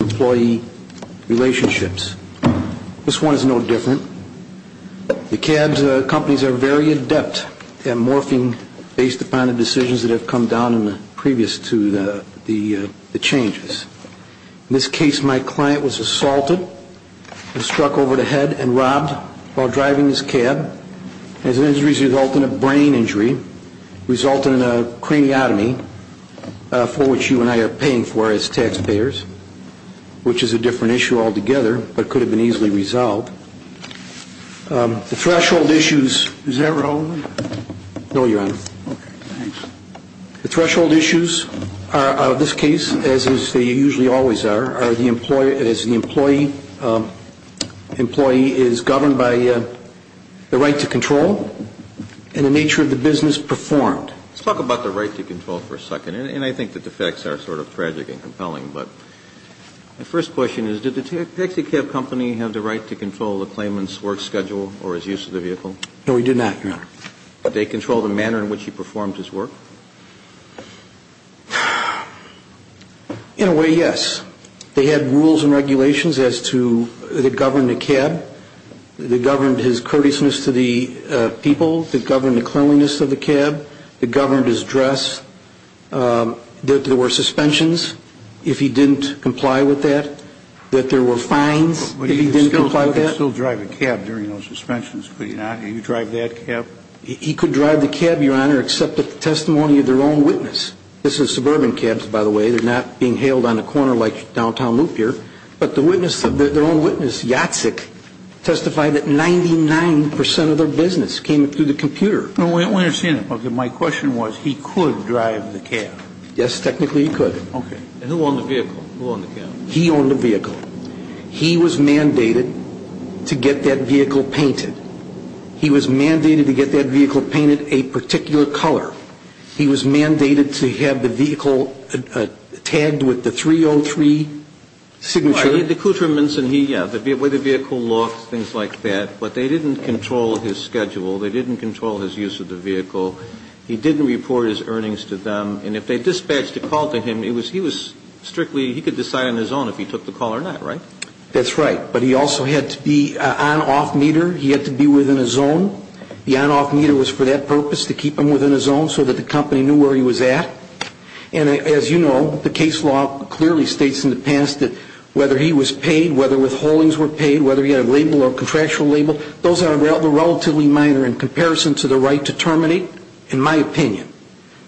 Employee Relationships. This one is no different. The cab companies are very adept at morphing based upon the decisions that have come down in the previous to the changes. In this case my client was assaulted and struck over the head and robbed while driving his cab. His injuries resulted in a brain injury, resulted in a craniotomy for which you and I are paying for as taxpayers, which is a different issue altogether but could have been easily resolved. The threshold issues are, in this case, as they usually always are, the employee is governed by the right to control and the nature of the business performed. Let's talk about the right to control for a second. And I think that the facts are sort of tragic and compelling, but my first question is, did the taxi cab company have the right to control the claimant's work schedule or his use of the vehicle? No, he did not, Your Honor. Did they control the manner in which he performed his work? In a way, yes. They had rules and regulations as to, that governed the cab, that governed his courteousness to the people, that governed the cleanliness of the cab, that governed his dress, that there were suspensions if he didn't comply with that, that there were fines if he didn't comply with that. But he could still drive a cab during those suspensions, could he not? Could he drive that cab? He could drive the cab, Your Honor, except at the testimony of their own witness. This is suburban cabs, by the way. They're not being hailed on a corner like downtown Moot Pier. But the witness, their own witness, Yatzik, testified that 99 percent of their business came through the computer. We understand that. Okay. My question was, he could drive the cab. Yes, technically he could. Okay. And who owned the vehicle? Who owned the cab? He owned the vehicle. He was mandated to get that vehicle painted. He was mandated to get that vehicle painted a particular color. He was mandated to have the vehicle tagged with the 303 signature. The Kuttermans and he, yeah, the way the vehicle looked, things like that. But they didn't control his schedule. They didn't control his use of the vehicle. He didn't report his earnings to them. And if they dispatched a call to him, he was strictly, he could decide on his own if he took the call or not, right? That's right. But he also had to be an on-off meter. He had to be within a zone. The on-off meter was for that purpose, to keep him within a zone so that the company knew where he was at. And as you know, the case law clearly states in the past that whether he was paid, whether withholdings were paid, whether he had a label or contractual label, those are relatively minor in comparison to the right to terminate, in my opinion.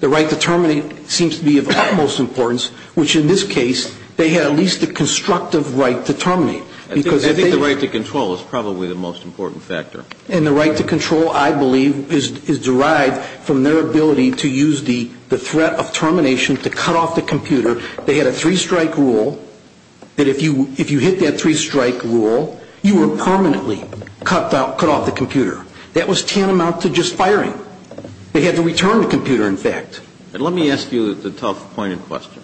The right to terminate seems to be of utmost importance, which in this case, they had at least a constructive right to terminate. I think the right to control is probably the most important factor. And the right to control, I believe, is derived from their ability to use the threat of termination to cut off the computer. They had a three-strike rule that if you hit that three-strike rule, you were permanently cut off the computer. That was tantamount to just firing. They had to return the computer, in fact. Let me ask you the tough point in question.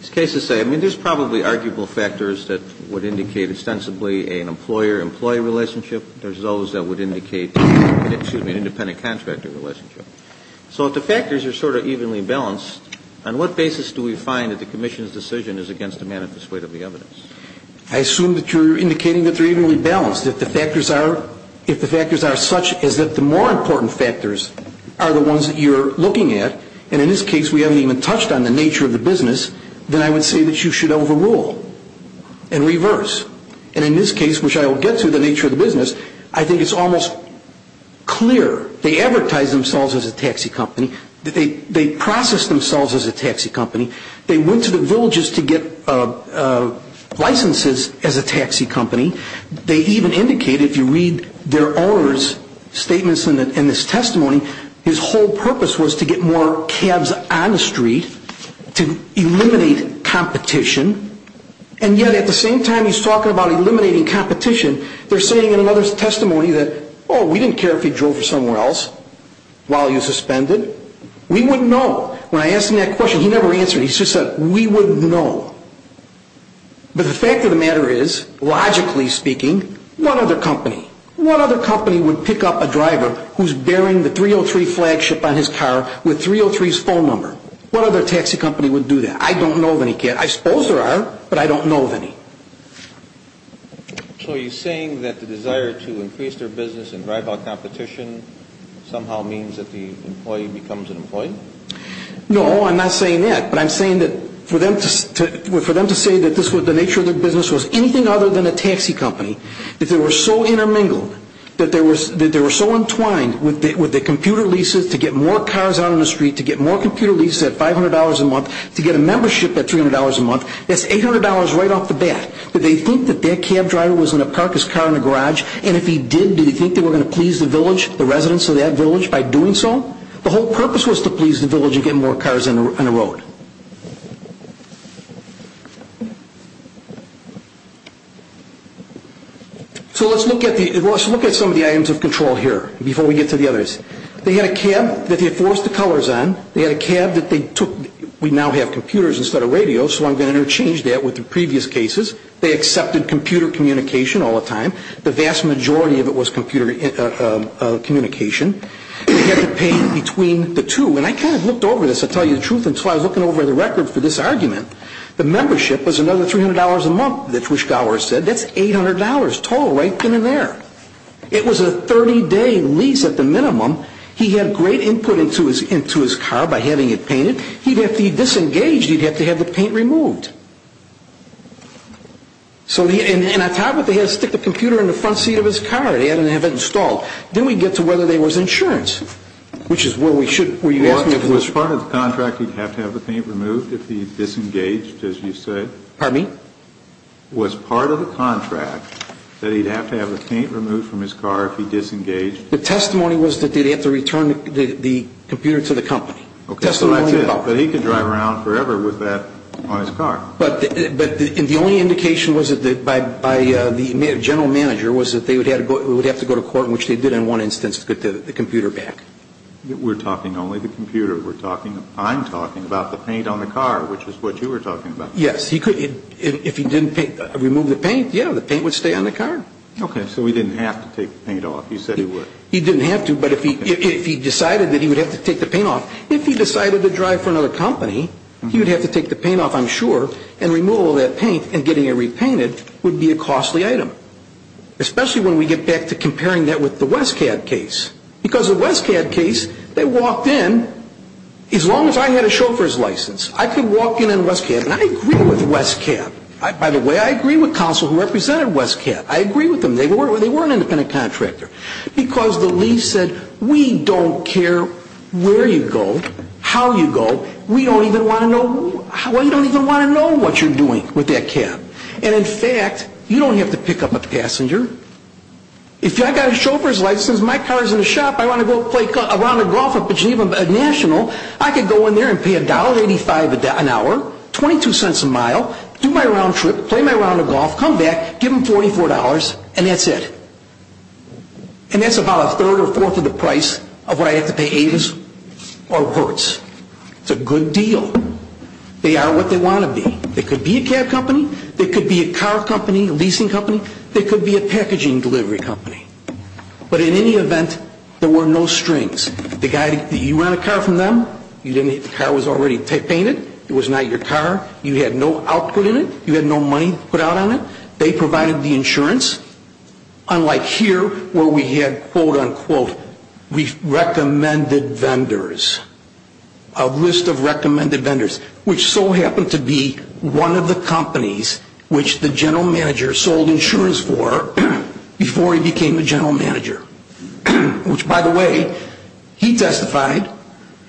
As cases say, I mean, there's probably arguable factors that would indicate extensively an employer-employee relationship. There's those that would indicate an independent contractor relationship. So if the factors are sort of evenly balanced, on what basis do we find that the commission's decision is against the manifest weight of the evidence? I assume that you're indicating that they're evenly balanced. If the factors are such as that the more important factors are the ones that you're looking at, and in this case we haven't even touched on the nature of the business, then I would say that you should overrule and reverse. And in this case, which I will get to, the nature of the business, I think it's almost clear. They advertised themselves as a taxi company. They processed themselves as a taxi company. They went to the villages to get licenses as a taxi company. They even indicated, if you read their owners' statements in this testimony, his whole purpose was to get more cabs on the street, to eliminate competition. And yet, at the same time he's talking about eliminating competition, they're saying in another testimony that, oh, we didn't care if he drove somewhere else while he was suspended. We wouldn't know. When I asked him that question, he never answered. He just said, we wouldn't know. But the fact of the matter is, logically speaking, what other company? What other company would pick up a driver who's bearing the 303 flagship on his car with 303's phone number? What other taxi company would do that? I don't know of any, Ken. I suppose there are, but I don't know of any. So are you saying that the desire to increase their business and drive out competition somehow means that the employee becomes an employee? No, I'm not saying that. But I'm saying that for them to say that the nature of their business was anything other than a taxi company, that they were so intermingled, that they were so entwined with the computer leases to get more cars on the street, to get more computer leases at $500 a month, to get a membership at $300 a month, that's $800 right off the bat. Did they think that their cab driver was going to park his car in a garage? And if he did, did he think they were going to please the village, the residents of that village, by doing so? The whole purpose was to please the village and get more cars on the road. So let's look at some of the items of control here before we get to the others. They had a cab that they forced the colors on. They had a cab that they took. We now have computers instead of radios, so I'm going to interchange that with the previous cases. They accepted computer communication all the time. The vast majority of it was computer communication. They had to pay in between the two. And I kind of looked over this, I'll tell you the truth, until I was looking over the record for this argument. The membership was another $300 a month, the Twishkowers said. That's $800 total right then and there. It was a 30-day lease at the minimum. He had great input into his car by having it painted. If he disengaged, he'd have to have the paint removed. And on top of it, they had to stick the computer in the front seat of his car. They had to have it installed. Then we get to whether there was insurance, which is where we should... Was part of the contract that he'd have to have the paint removed if he disengaged, as you said? Pardon me? Was part of the contract that he'd have to have the paint removed from his car if he disengaged? The testimony was that they'd have to return the computer to the company. Okay. So that's it. But he could drive around forever with that on his car. But the only indication was that by the general manager was that they would have to go to court, which they did in one instance, to get the computer back. We're talking only the computer. We're talking, I'm talking about the paint on the car, which is what you were talking about. Yes. If he didn't remove the paint, yeah, the paint would stay on the car. Okay. So he didn't have to take the paint off. You said he would. He didn't have to, but if he decided that he would have to take the paint off. If he decided to drive for another company, he would have to take the paint off, I'm sure, and remove all that paint, and getting it repainted would be a costly item. Especially when we get back to comparing that with the Westcad case. Because the Westcad case, they walked in, as long as I had a chauffeur's license, I could walk in in Westcad, and I agree with Westcad. By the way, I agree with counsel who represented Westcad. I agree with them. They were an independent contractor. Because the lease said, we don't care where you go, how you go, we don't even want to know, well, you don't even want to know what you're doing with that cab. And in fact, you don't have to pick up a passenger. If I've got a chauffeur's license, my car's in the shop, I want to go play a round of golf up at Geneva National, I could go in there and pay $1.85 an hour, 22 cents a mile, do my round trip, play my round of golf, come back, give them $44, and that's it. And that's about a third or fourth of the price of what I have to pay Avis or Hertz. It's a good deal. They are what they want to be. They could be a cab company, they could be a car company, a leasing company, they could be a packaging delivery company. But in any event, there were no strings. You rent a car from them, the car was already painted, it was not your car, you had no output in it, you had no money put out on it. They provided the insurance, unlike here where we had, quote, unquote, recommended vendors, a list of recommended vendors, which so happened to be one of the companies which the general manager sold insurance for before he became the general manager. Which, by the way, he testified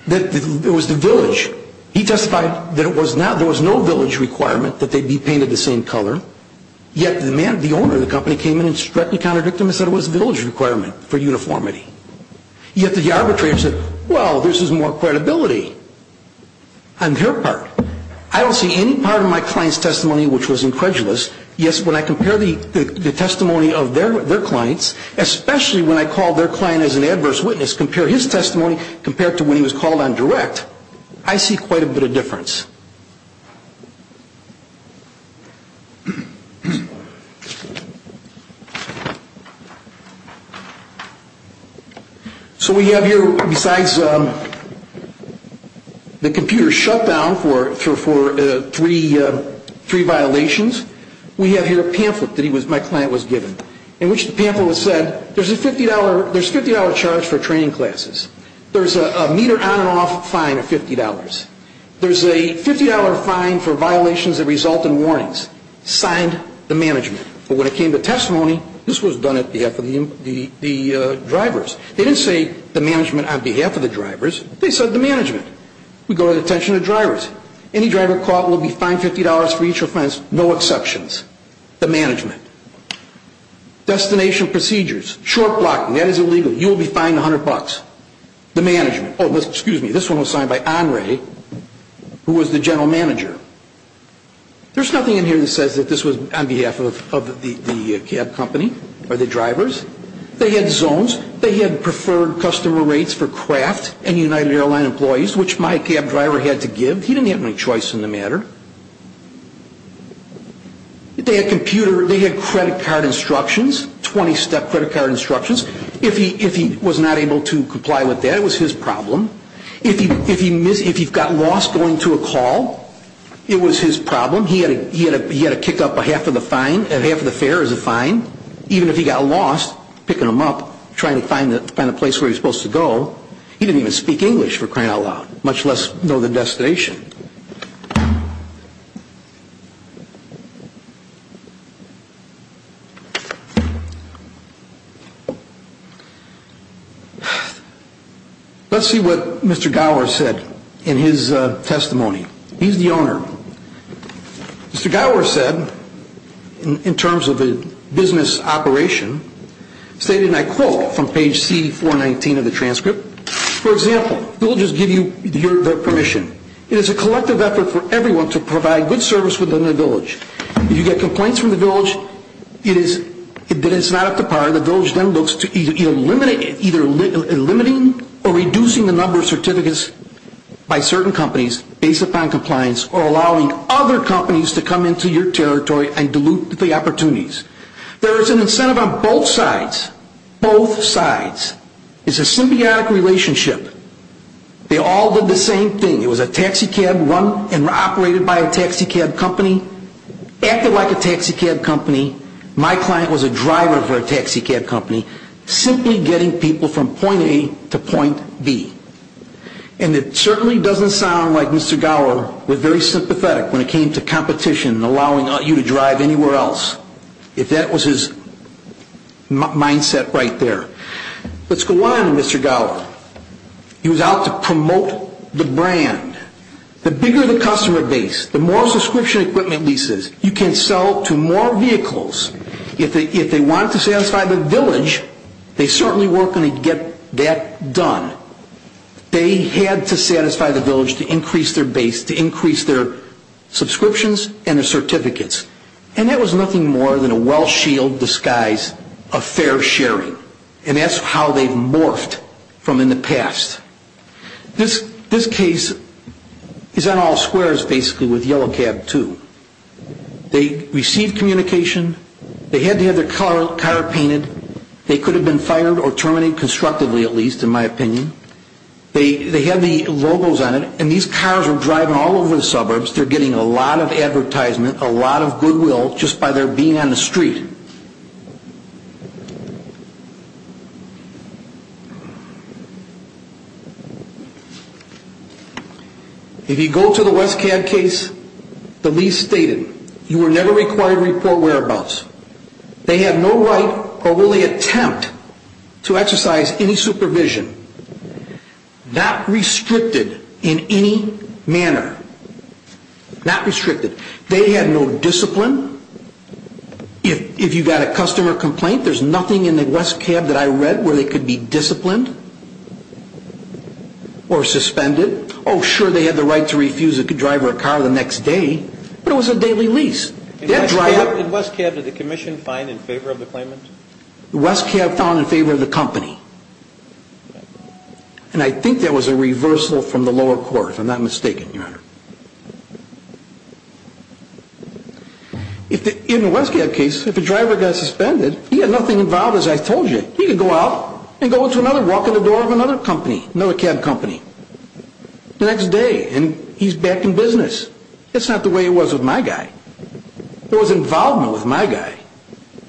that it was the village. He testified that there was no village requirement that they be painted the same color, yet the owner of the company came in and strictly contradicted him and said it was a village requirement for uniformity. Yet the arbitrator said, well, this is more credibility on their part. I don't see any part of my client's testimony which was incredulous, yet when I compare the testimony of their clients, especially when I call their client as an adverse witness, compare his testimony compared to when he was called on direct, So we have here, besides the computer shutdown for three violations, we have here a pamphlet that my client was given, in which the pamphlet said, there's a $50 charge for training classes. There's a meter on and off fine of $50. There's a $50 fine for violations that result in warnings. Signed, the management. But when it came to testimony, this was done on behalf of the drivers. They didn't say the management on behalf of the drivers, they said the management. We go to the attention of the drivers. Any driver caught will be fined $50 for each offense, no exceptions. The management. Destination procedures, short blocking, that is illegal. You will be fined $100. The management. Oh, excuse me, this one was signed by Andre, who was the general manager. There's nothing in here that says that this was on behalf of the cab company or the drivers. They had zones. They had preferred customer rates for Kraft and United Airlines employees, which my cab driver had to give. He didn't have any choice in the matter. They had credit card instructions, 20-step credit card instructions. If he was not able to comply with that, it was his problem. If he got lost going to a call, it was his problem. He had to kick up half of the fine. Half of the fare is a fine. Even if he got lost picking him up, trying to find a place where he was supposed to go, he didn't even speak English, for crying out loud, much less know the destination. Let's see what Mr. Gower said in his testimony. He's the owner. Mr. Gower said, in terms of a business operation, stated, and I quote from page C419 of the transcript, for example, villages give you their permission. It is a collective effort for everyone to provide good service within the village. If you get complaints from the village, it is not up to par. The village then looks to either eliminating or reducing the number of certificates by certain companies based upon compliance or allowing other companies to come into your territory and dilute the opportunities. There is an incentive on both sides. Both sides. It's a symbiotic relationship. They all did the same thing. It was a taxicab run and operated by a taxicab company, acted like a taxicab company. My client was a driver for a taxicab company. Simply getting people from point A to point B. And it certainly doesn't sound like Mr. Gower was very sympathetic when it came to competition and allowing you to drive anywhere else. If that was his mindset right there. Let's go on to Mr. Gower. He was out to promote the brand. The bigger the customer base, the more subscription equipment leases, you can sell to more vehicles. If they want to satisfy the village, they certainly weren't going to get that done. They had to satisfy the village to increase their base, to increase their subscriptions and their certificates. And that was nothing more than a well-sheeled disguise of fair sharing. And that's how they've morphed from in the past. This case is on all squares basically with Yellow Cab 2. They received communication. They had to have their car painted. They could have been fired or terminated constructively at least in my opinion. They had the logos on it. And these cars were driving all over the suburbs. They're getting a lot of advertisement, a lot of goodwill just by their being on the street. If you go to the West Cab case, the lease stated, you were never required to report whereabouts. They had no right or will they attempt to exercise any supervision. Not restricted in any manner. Not restricted. They had no discipline. If you've got a customer complaint, there's nothing in the West Cab that I read where they could be disciplined or suspended. Oh, sure, they had the right to refuse a driver a car the next day, but it was a daily lease. In West Cab, did the commission find in favor of the claimant? The West Cab found in favor of the company. And I think that was a reversal from the lower court, if I'm not mistaken, Your Honor. In the West Cab case, if a driver got suspended, he had nothing involved as I told you. He could go out and go to another walk in the door of another company, another cab company, the next day and he's back in business. That's not the way it was with my guy. There was involvement with my guy.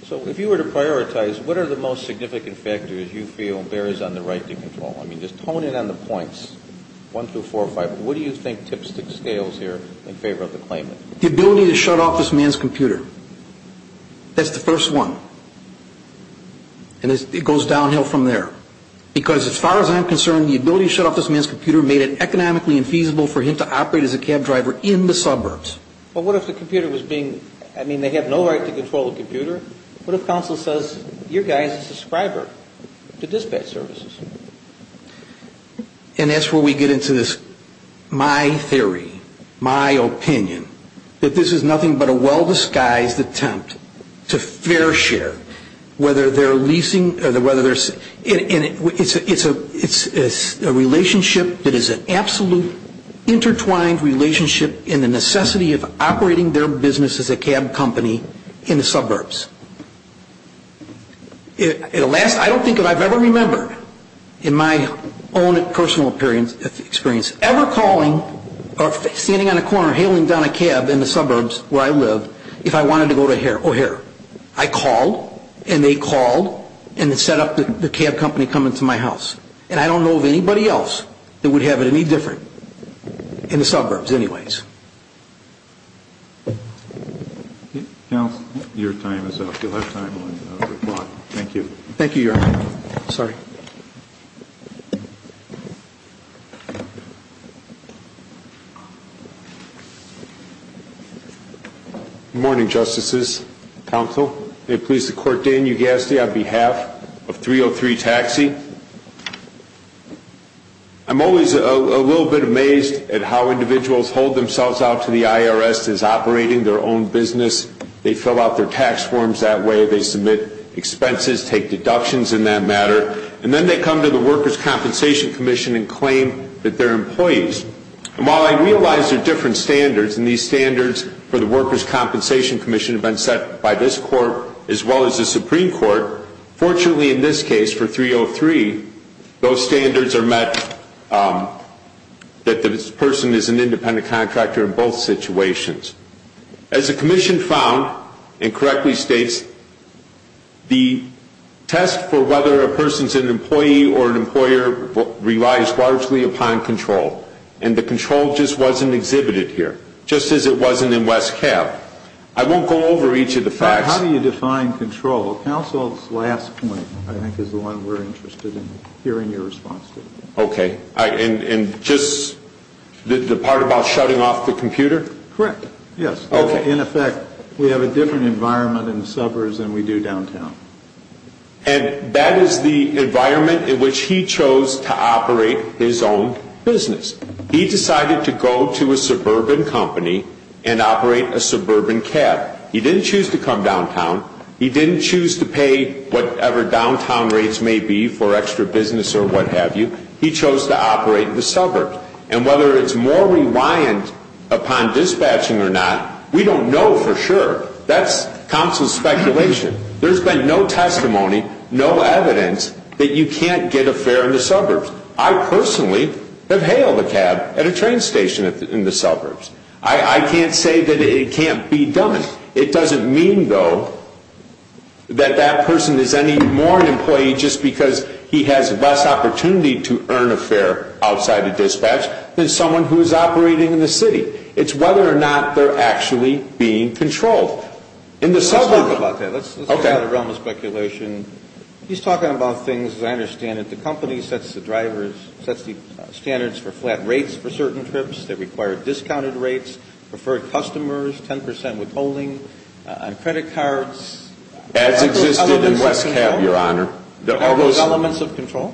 So if you were to prioritize, what are the most significant factors you feel bears on the right to control? I mean, just hone in on the points, one through four or five. What do you think tips the scales here in favor of the claimant? The ability to shut off this man's computer. That's the first one. And it goes downhill from there. Because as far as I'm concerned, the ability to shut off this man's computer made it economically infeasible for him to operate as a cab driver in the suburbs. Well, what if the computer was being, I mean, they have no right to control the computer. What if counsel says your guy is a subscriber to dispatch services? And that's where we get into this, my theory, my opinion, that this is nothing but a well-disguised attempt to fair share whether they're leasing, and it's a relationship that is an absolute intertwined relationship in the necessity of operating their business as a cab company in the suburbs. I don't think I've ever remembered in my own personal experience ever calling or standing on a corner hailing down a cab in the suburbs where I live if I wanted to go to O'Hare. I called, and they called, and they set up the cab company coming to my house. And I don't know of anybody else that would have it any different in the suburbs anyways. Counsel, your time is up. You'll have time to reply. Thank you, Your Honor. Sorry. Good morning, Justices, Counsel. May it please the Court, Dan Ugaste on behalf of 303 Taxi. I'm always a little bit amazed at how individuals hold themselves out to the IRS as operating their own business. They fill out their tax forms that way. They submit expenses, take deductions in that matter. And then they come to the Workers' Compensation Commission and claim that they're employees. And while I realize there are different standards, and these standards for the Workers' Compensation Commission have been set by this Court as well as the Supreme Court, fortunately in this case for 303, those standards are met that the person is an independent contractor in both situations. As the Commission found, and correctly states, the test for whether a person's an employee or an employer relies largely upon control. And the control just wasn't exhibited here, just as it wasn't in West Cab. I won't go over each of the facts. How do you define control? Counsel's last point, I think, is the one we're interested in hearing your response to. Okay. And just the part about shutting off the computer? Correct. Yes. Okay. In effect, we have a different environment in the suburbs than we do downtown. And that is the environment in which he chose to operate his own business. He decided to go to a suburban company and operate a suburban cab. He didn't choose to come downtown. He didn't choose to pay whatever downtown rates may be for extra business or what have you. He chose to operate in the suburbs. And whether it's more reliant upon dispatching or not, we don't know for sure. That's counsel's speculation. There's been no testimony, no evidence, that you can't get a fare in the suburbs. I personally have hailed a cab at a train station in the suburbs. I can't say that it can't be done. It doesn't mean, though, that that person is any more an employee just because he has less opportunity to earn a fare outside of dispatch than someone who is operating in the city. It's whether or not they're actually being controlled. Let's talk about that. Let's talk about the realm of speculation. He's talking about things, as I understand it, the company sets the drivers, sets the standards for flat rates for certain trips that require discounted rates, preferred customers, 10 percent withholding on credit cards. As existed in West Cab, Your Honor. Are those elements of control?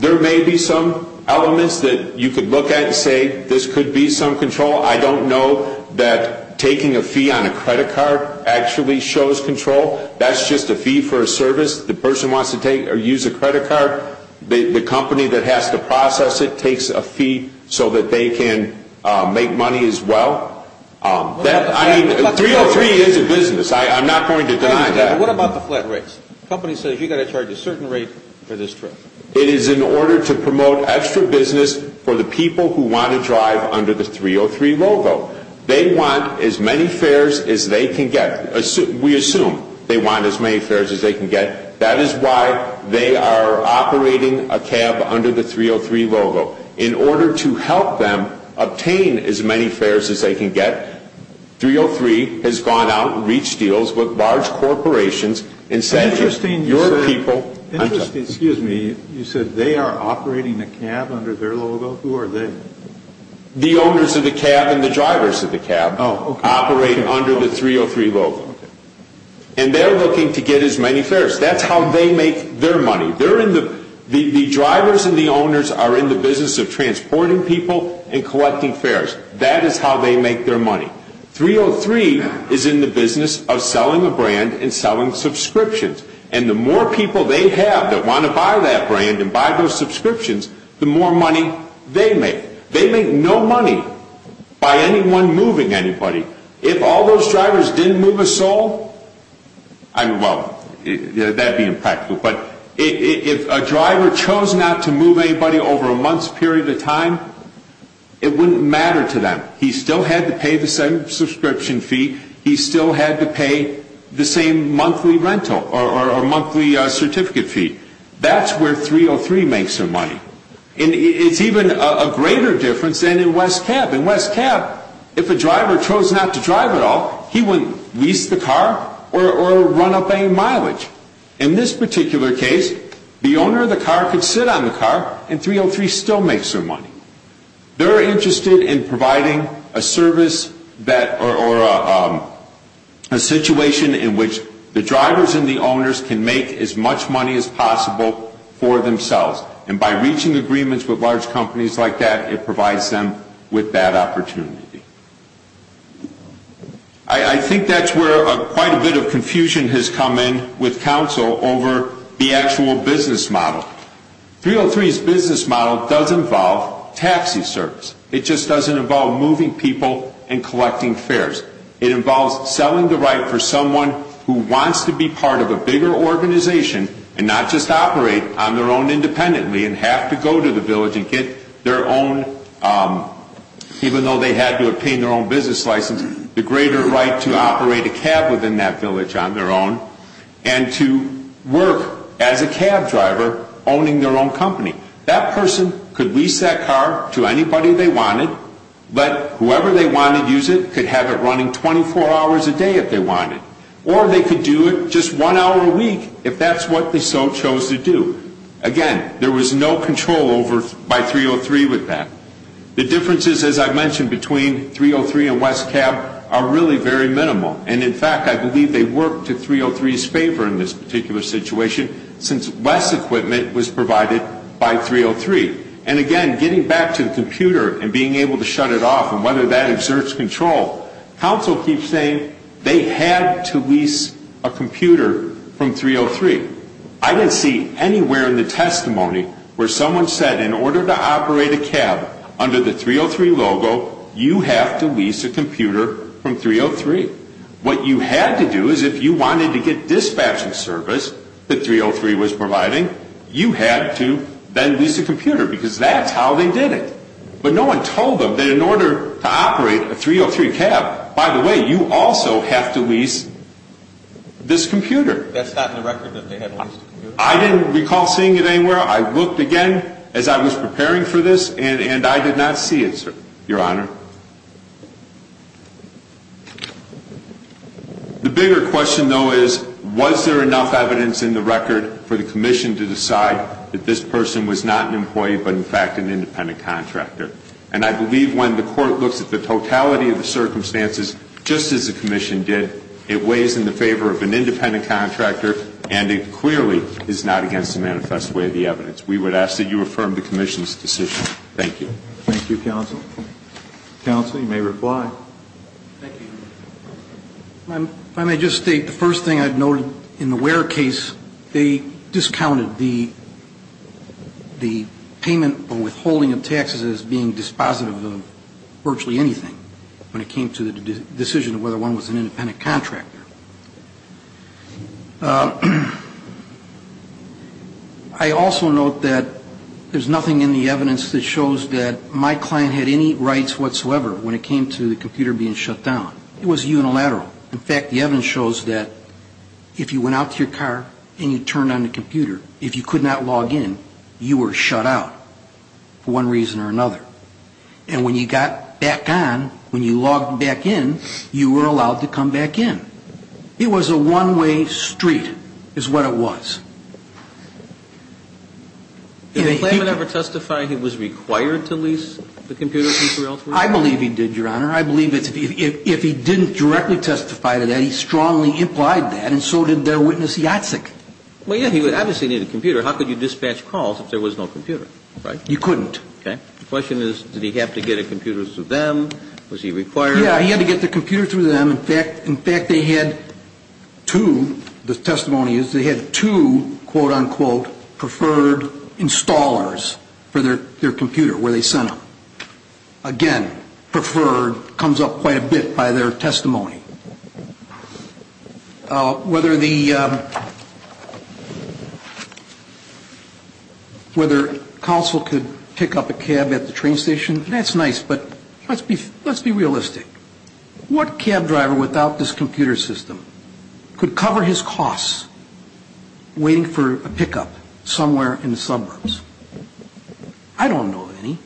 There may be some elements that you could look at and say this could be some control. I don't know that taking a fee on a credit card actually shows control. That's just a fee for a service. The person wants to take or use a credit card, the company that has to process it takes a fee so that they can make money as well. I mean, 303 is a business. I'm not going to deny that. What about the flat rates? The company says you've got to charge a certain rate for this trip. It is in order to promote extra business for the people who want to drive under the 303 logo. They want as many fares as they can get. We assume they want as many fares as they can get. That is why they are operating a cab under the 303 logo. In order to help them obtain as many fares as they can get, 303 has gone out and reached deals with large corporations and sent your people. Excuse me. You said they are operating a cab under their logo? Who are they? The owners of the cab and the drivers of the cab operate under the 303 logo. And they're looking to get as many fares. That's how they make their money. The drivers and the owners are in the business of transporting people and collecting fares. That is how they make their money. 303 is in the business of selling a brand and selling subscriptions. And the more people they have that want to buy that brand and buy those subscriptions, the more money they make. They make no money by anyone moving anybody. If all those drivers didn't move a soul, well, that being practical, but if a driver chose not to move anybody over a month's period of time, it wouldn't matter to them. He still had to pay the same subscription fee. He still had to pay the same monthly rental or monthly certificate fee. That's where 303 makes their money. It's even a greater difference than in West Cab. In West Cab, if a driver chose not to drive at all, he wouldn't lease the car or run up any mileage. In this particular case, the owner of the car could sit on the car, and 303 still makes their money. They're interested in providing a service that, or a situation in which the drivers and the owners can make as much money as possible for themselves. And by reaching agreements with large companies like that, it provides them with that opportunity. I think that's where quite a bit of confusion has come in with counsel over the actual business model. 303's business model does involve taxi service. It just doesn't involve moving people and collecting fares. It involves selling the right for someone who wants to be part of a bigger organization and not just operate on their own independently and have to go to the village and get their own, even though they had to have paid their own business license, the greater right to operate a cab within that village on their own and to work as a cab driver owning their own company. That person could lease that car to anybody they wanted, let whoever they wanted use it, could have it running 24 hours a day if they wanted, or they could do it just one hour a week if that's what they so chose to do. Again, there was no control by 303 with that. The differences, as I mentioned, between 303 and West Cab are really very minimal. And in fact, I believe they work to 303's favor in this particular situation since West's equipment was provided by 303. And again, getting back to the computer and being able to shut it off and whether that exerts control, counsel keeps saying they had to lease a computer from 303. I didn't see anywhere in the testimony where someone said in order to operate a cab under the 303 logo, you have to lease a computer from 303. What you had to do is if you wanted to get dispatching service that 303 was providing, you had to then lease a computer because that's how they did it. But no one told them that in order to operate a 303 cab, by the way, you also have to lease this computer. That's not in the record that they had a leased computer? I didn't recall seeing it anywhere. I looked again as I was preparing for this, and I did not see it, sir, Your Honor. The bigger question, though, is was there enough evidence in the record for the commission to decide that this person was not an employee but, in fact, an independent contractor? And I believe when the court looks at the totality of the circumstances, just as the commission did, it weighs in the favor of an independent contractor, and it clearly is not against the manifest way of the evidence. We would ask that you affirm the commission's decision. Thank you. Thank you, counsel. Counsel, you may reply. Thank you, Your Honor. If I may just state the first thing I've noted in the Ware case, they discounted the payment or withholding of taxes as being dispositive of virtually anything when it came to the decision of whether one was an independent contractor. I also note that there's nothing in the evidence that shows that my client had any rights whatsoever when it came to the computer being shut down. It was unilateral. In fact, the evidence shows that if you went out to your car and you turned on the computer, if you could not log in, you were shut out for one reason or another. And when you got back on, when you logged back in, you were allowed to come back in. It was a one-way street is what it was. Did the claimant ever testify he was required to lease the computer to someone else? I believe he did, Your Honor. I believe if he didn't directly testify to that, he strongly implied that, and so did their witness Yatsik. Well, yeah, he obviously needed a computer. How could you dispatch calls if there was no computer, right? You couldn't. Okay. The question is, did he have to get a computer through them? Was he required? Yeah, he had to get the computer through them. In fact, they had two, the testimony is they had two, quote, unquote, preferred installers for their computer where they sent them. Again, preferred comes up quite a bit by their testimony. Whether the counsel could pick up a cab at the train station, that's nice, but let's be realistic. What cab driver without this computer system could cover his costs waiting for a pickup somewhere in the suburbs? I don't know of any.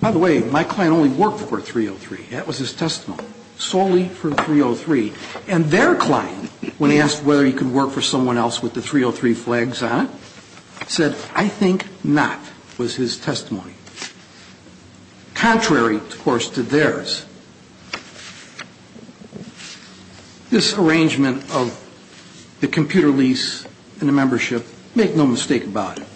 By the way, my client only worked for 303. That was his testimony, solely for 303. And their client, when asked whether he could work for someone else with the 303 flags on it, said, I think not, was his testimony. Contrary, of course, to theirs, this arrangement of the computer lease and the membership, make no mistake about it,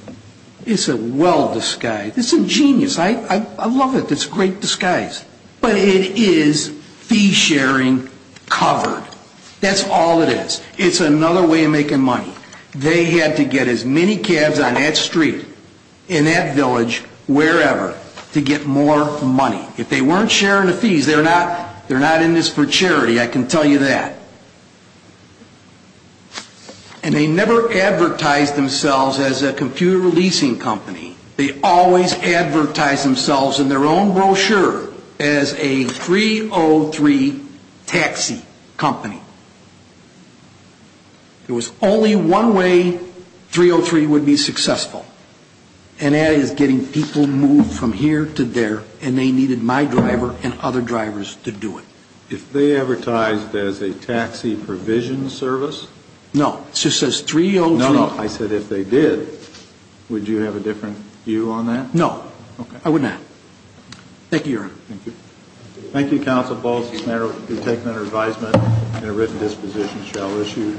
it's a well disguised, it's ingenious, I love it, it's a great disguise. But it is fee sharing covered. That's all it is. It's another way of making money. They had to get as many cabs on that street, in that village, wherever, to get more money. If they weren't sharing the fees, they're not in this for charity, I can tell you that. And they never advertised themselves as a computer leasing company. They always advertised themselves in their own brochure as a 303 taxi company. There was only one way 303 would be successful, and that is getting people moved from here to there, and they needed my driver and other drivers to do it. If they advertised as a taxi provision service? No, it just says 303. No, no, I said if they did, would you have a different view on that? No, I would not. Thank you, Your Honor. Thank you. Thank you, Counsel Paulson. This matter will be taken under advisement and a written disposition shall issue.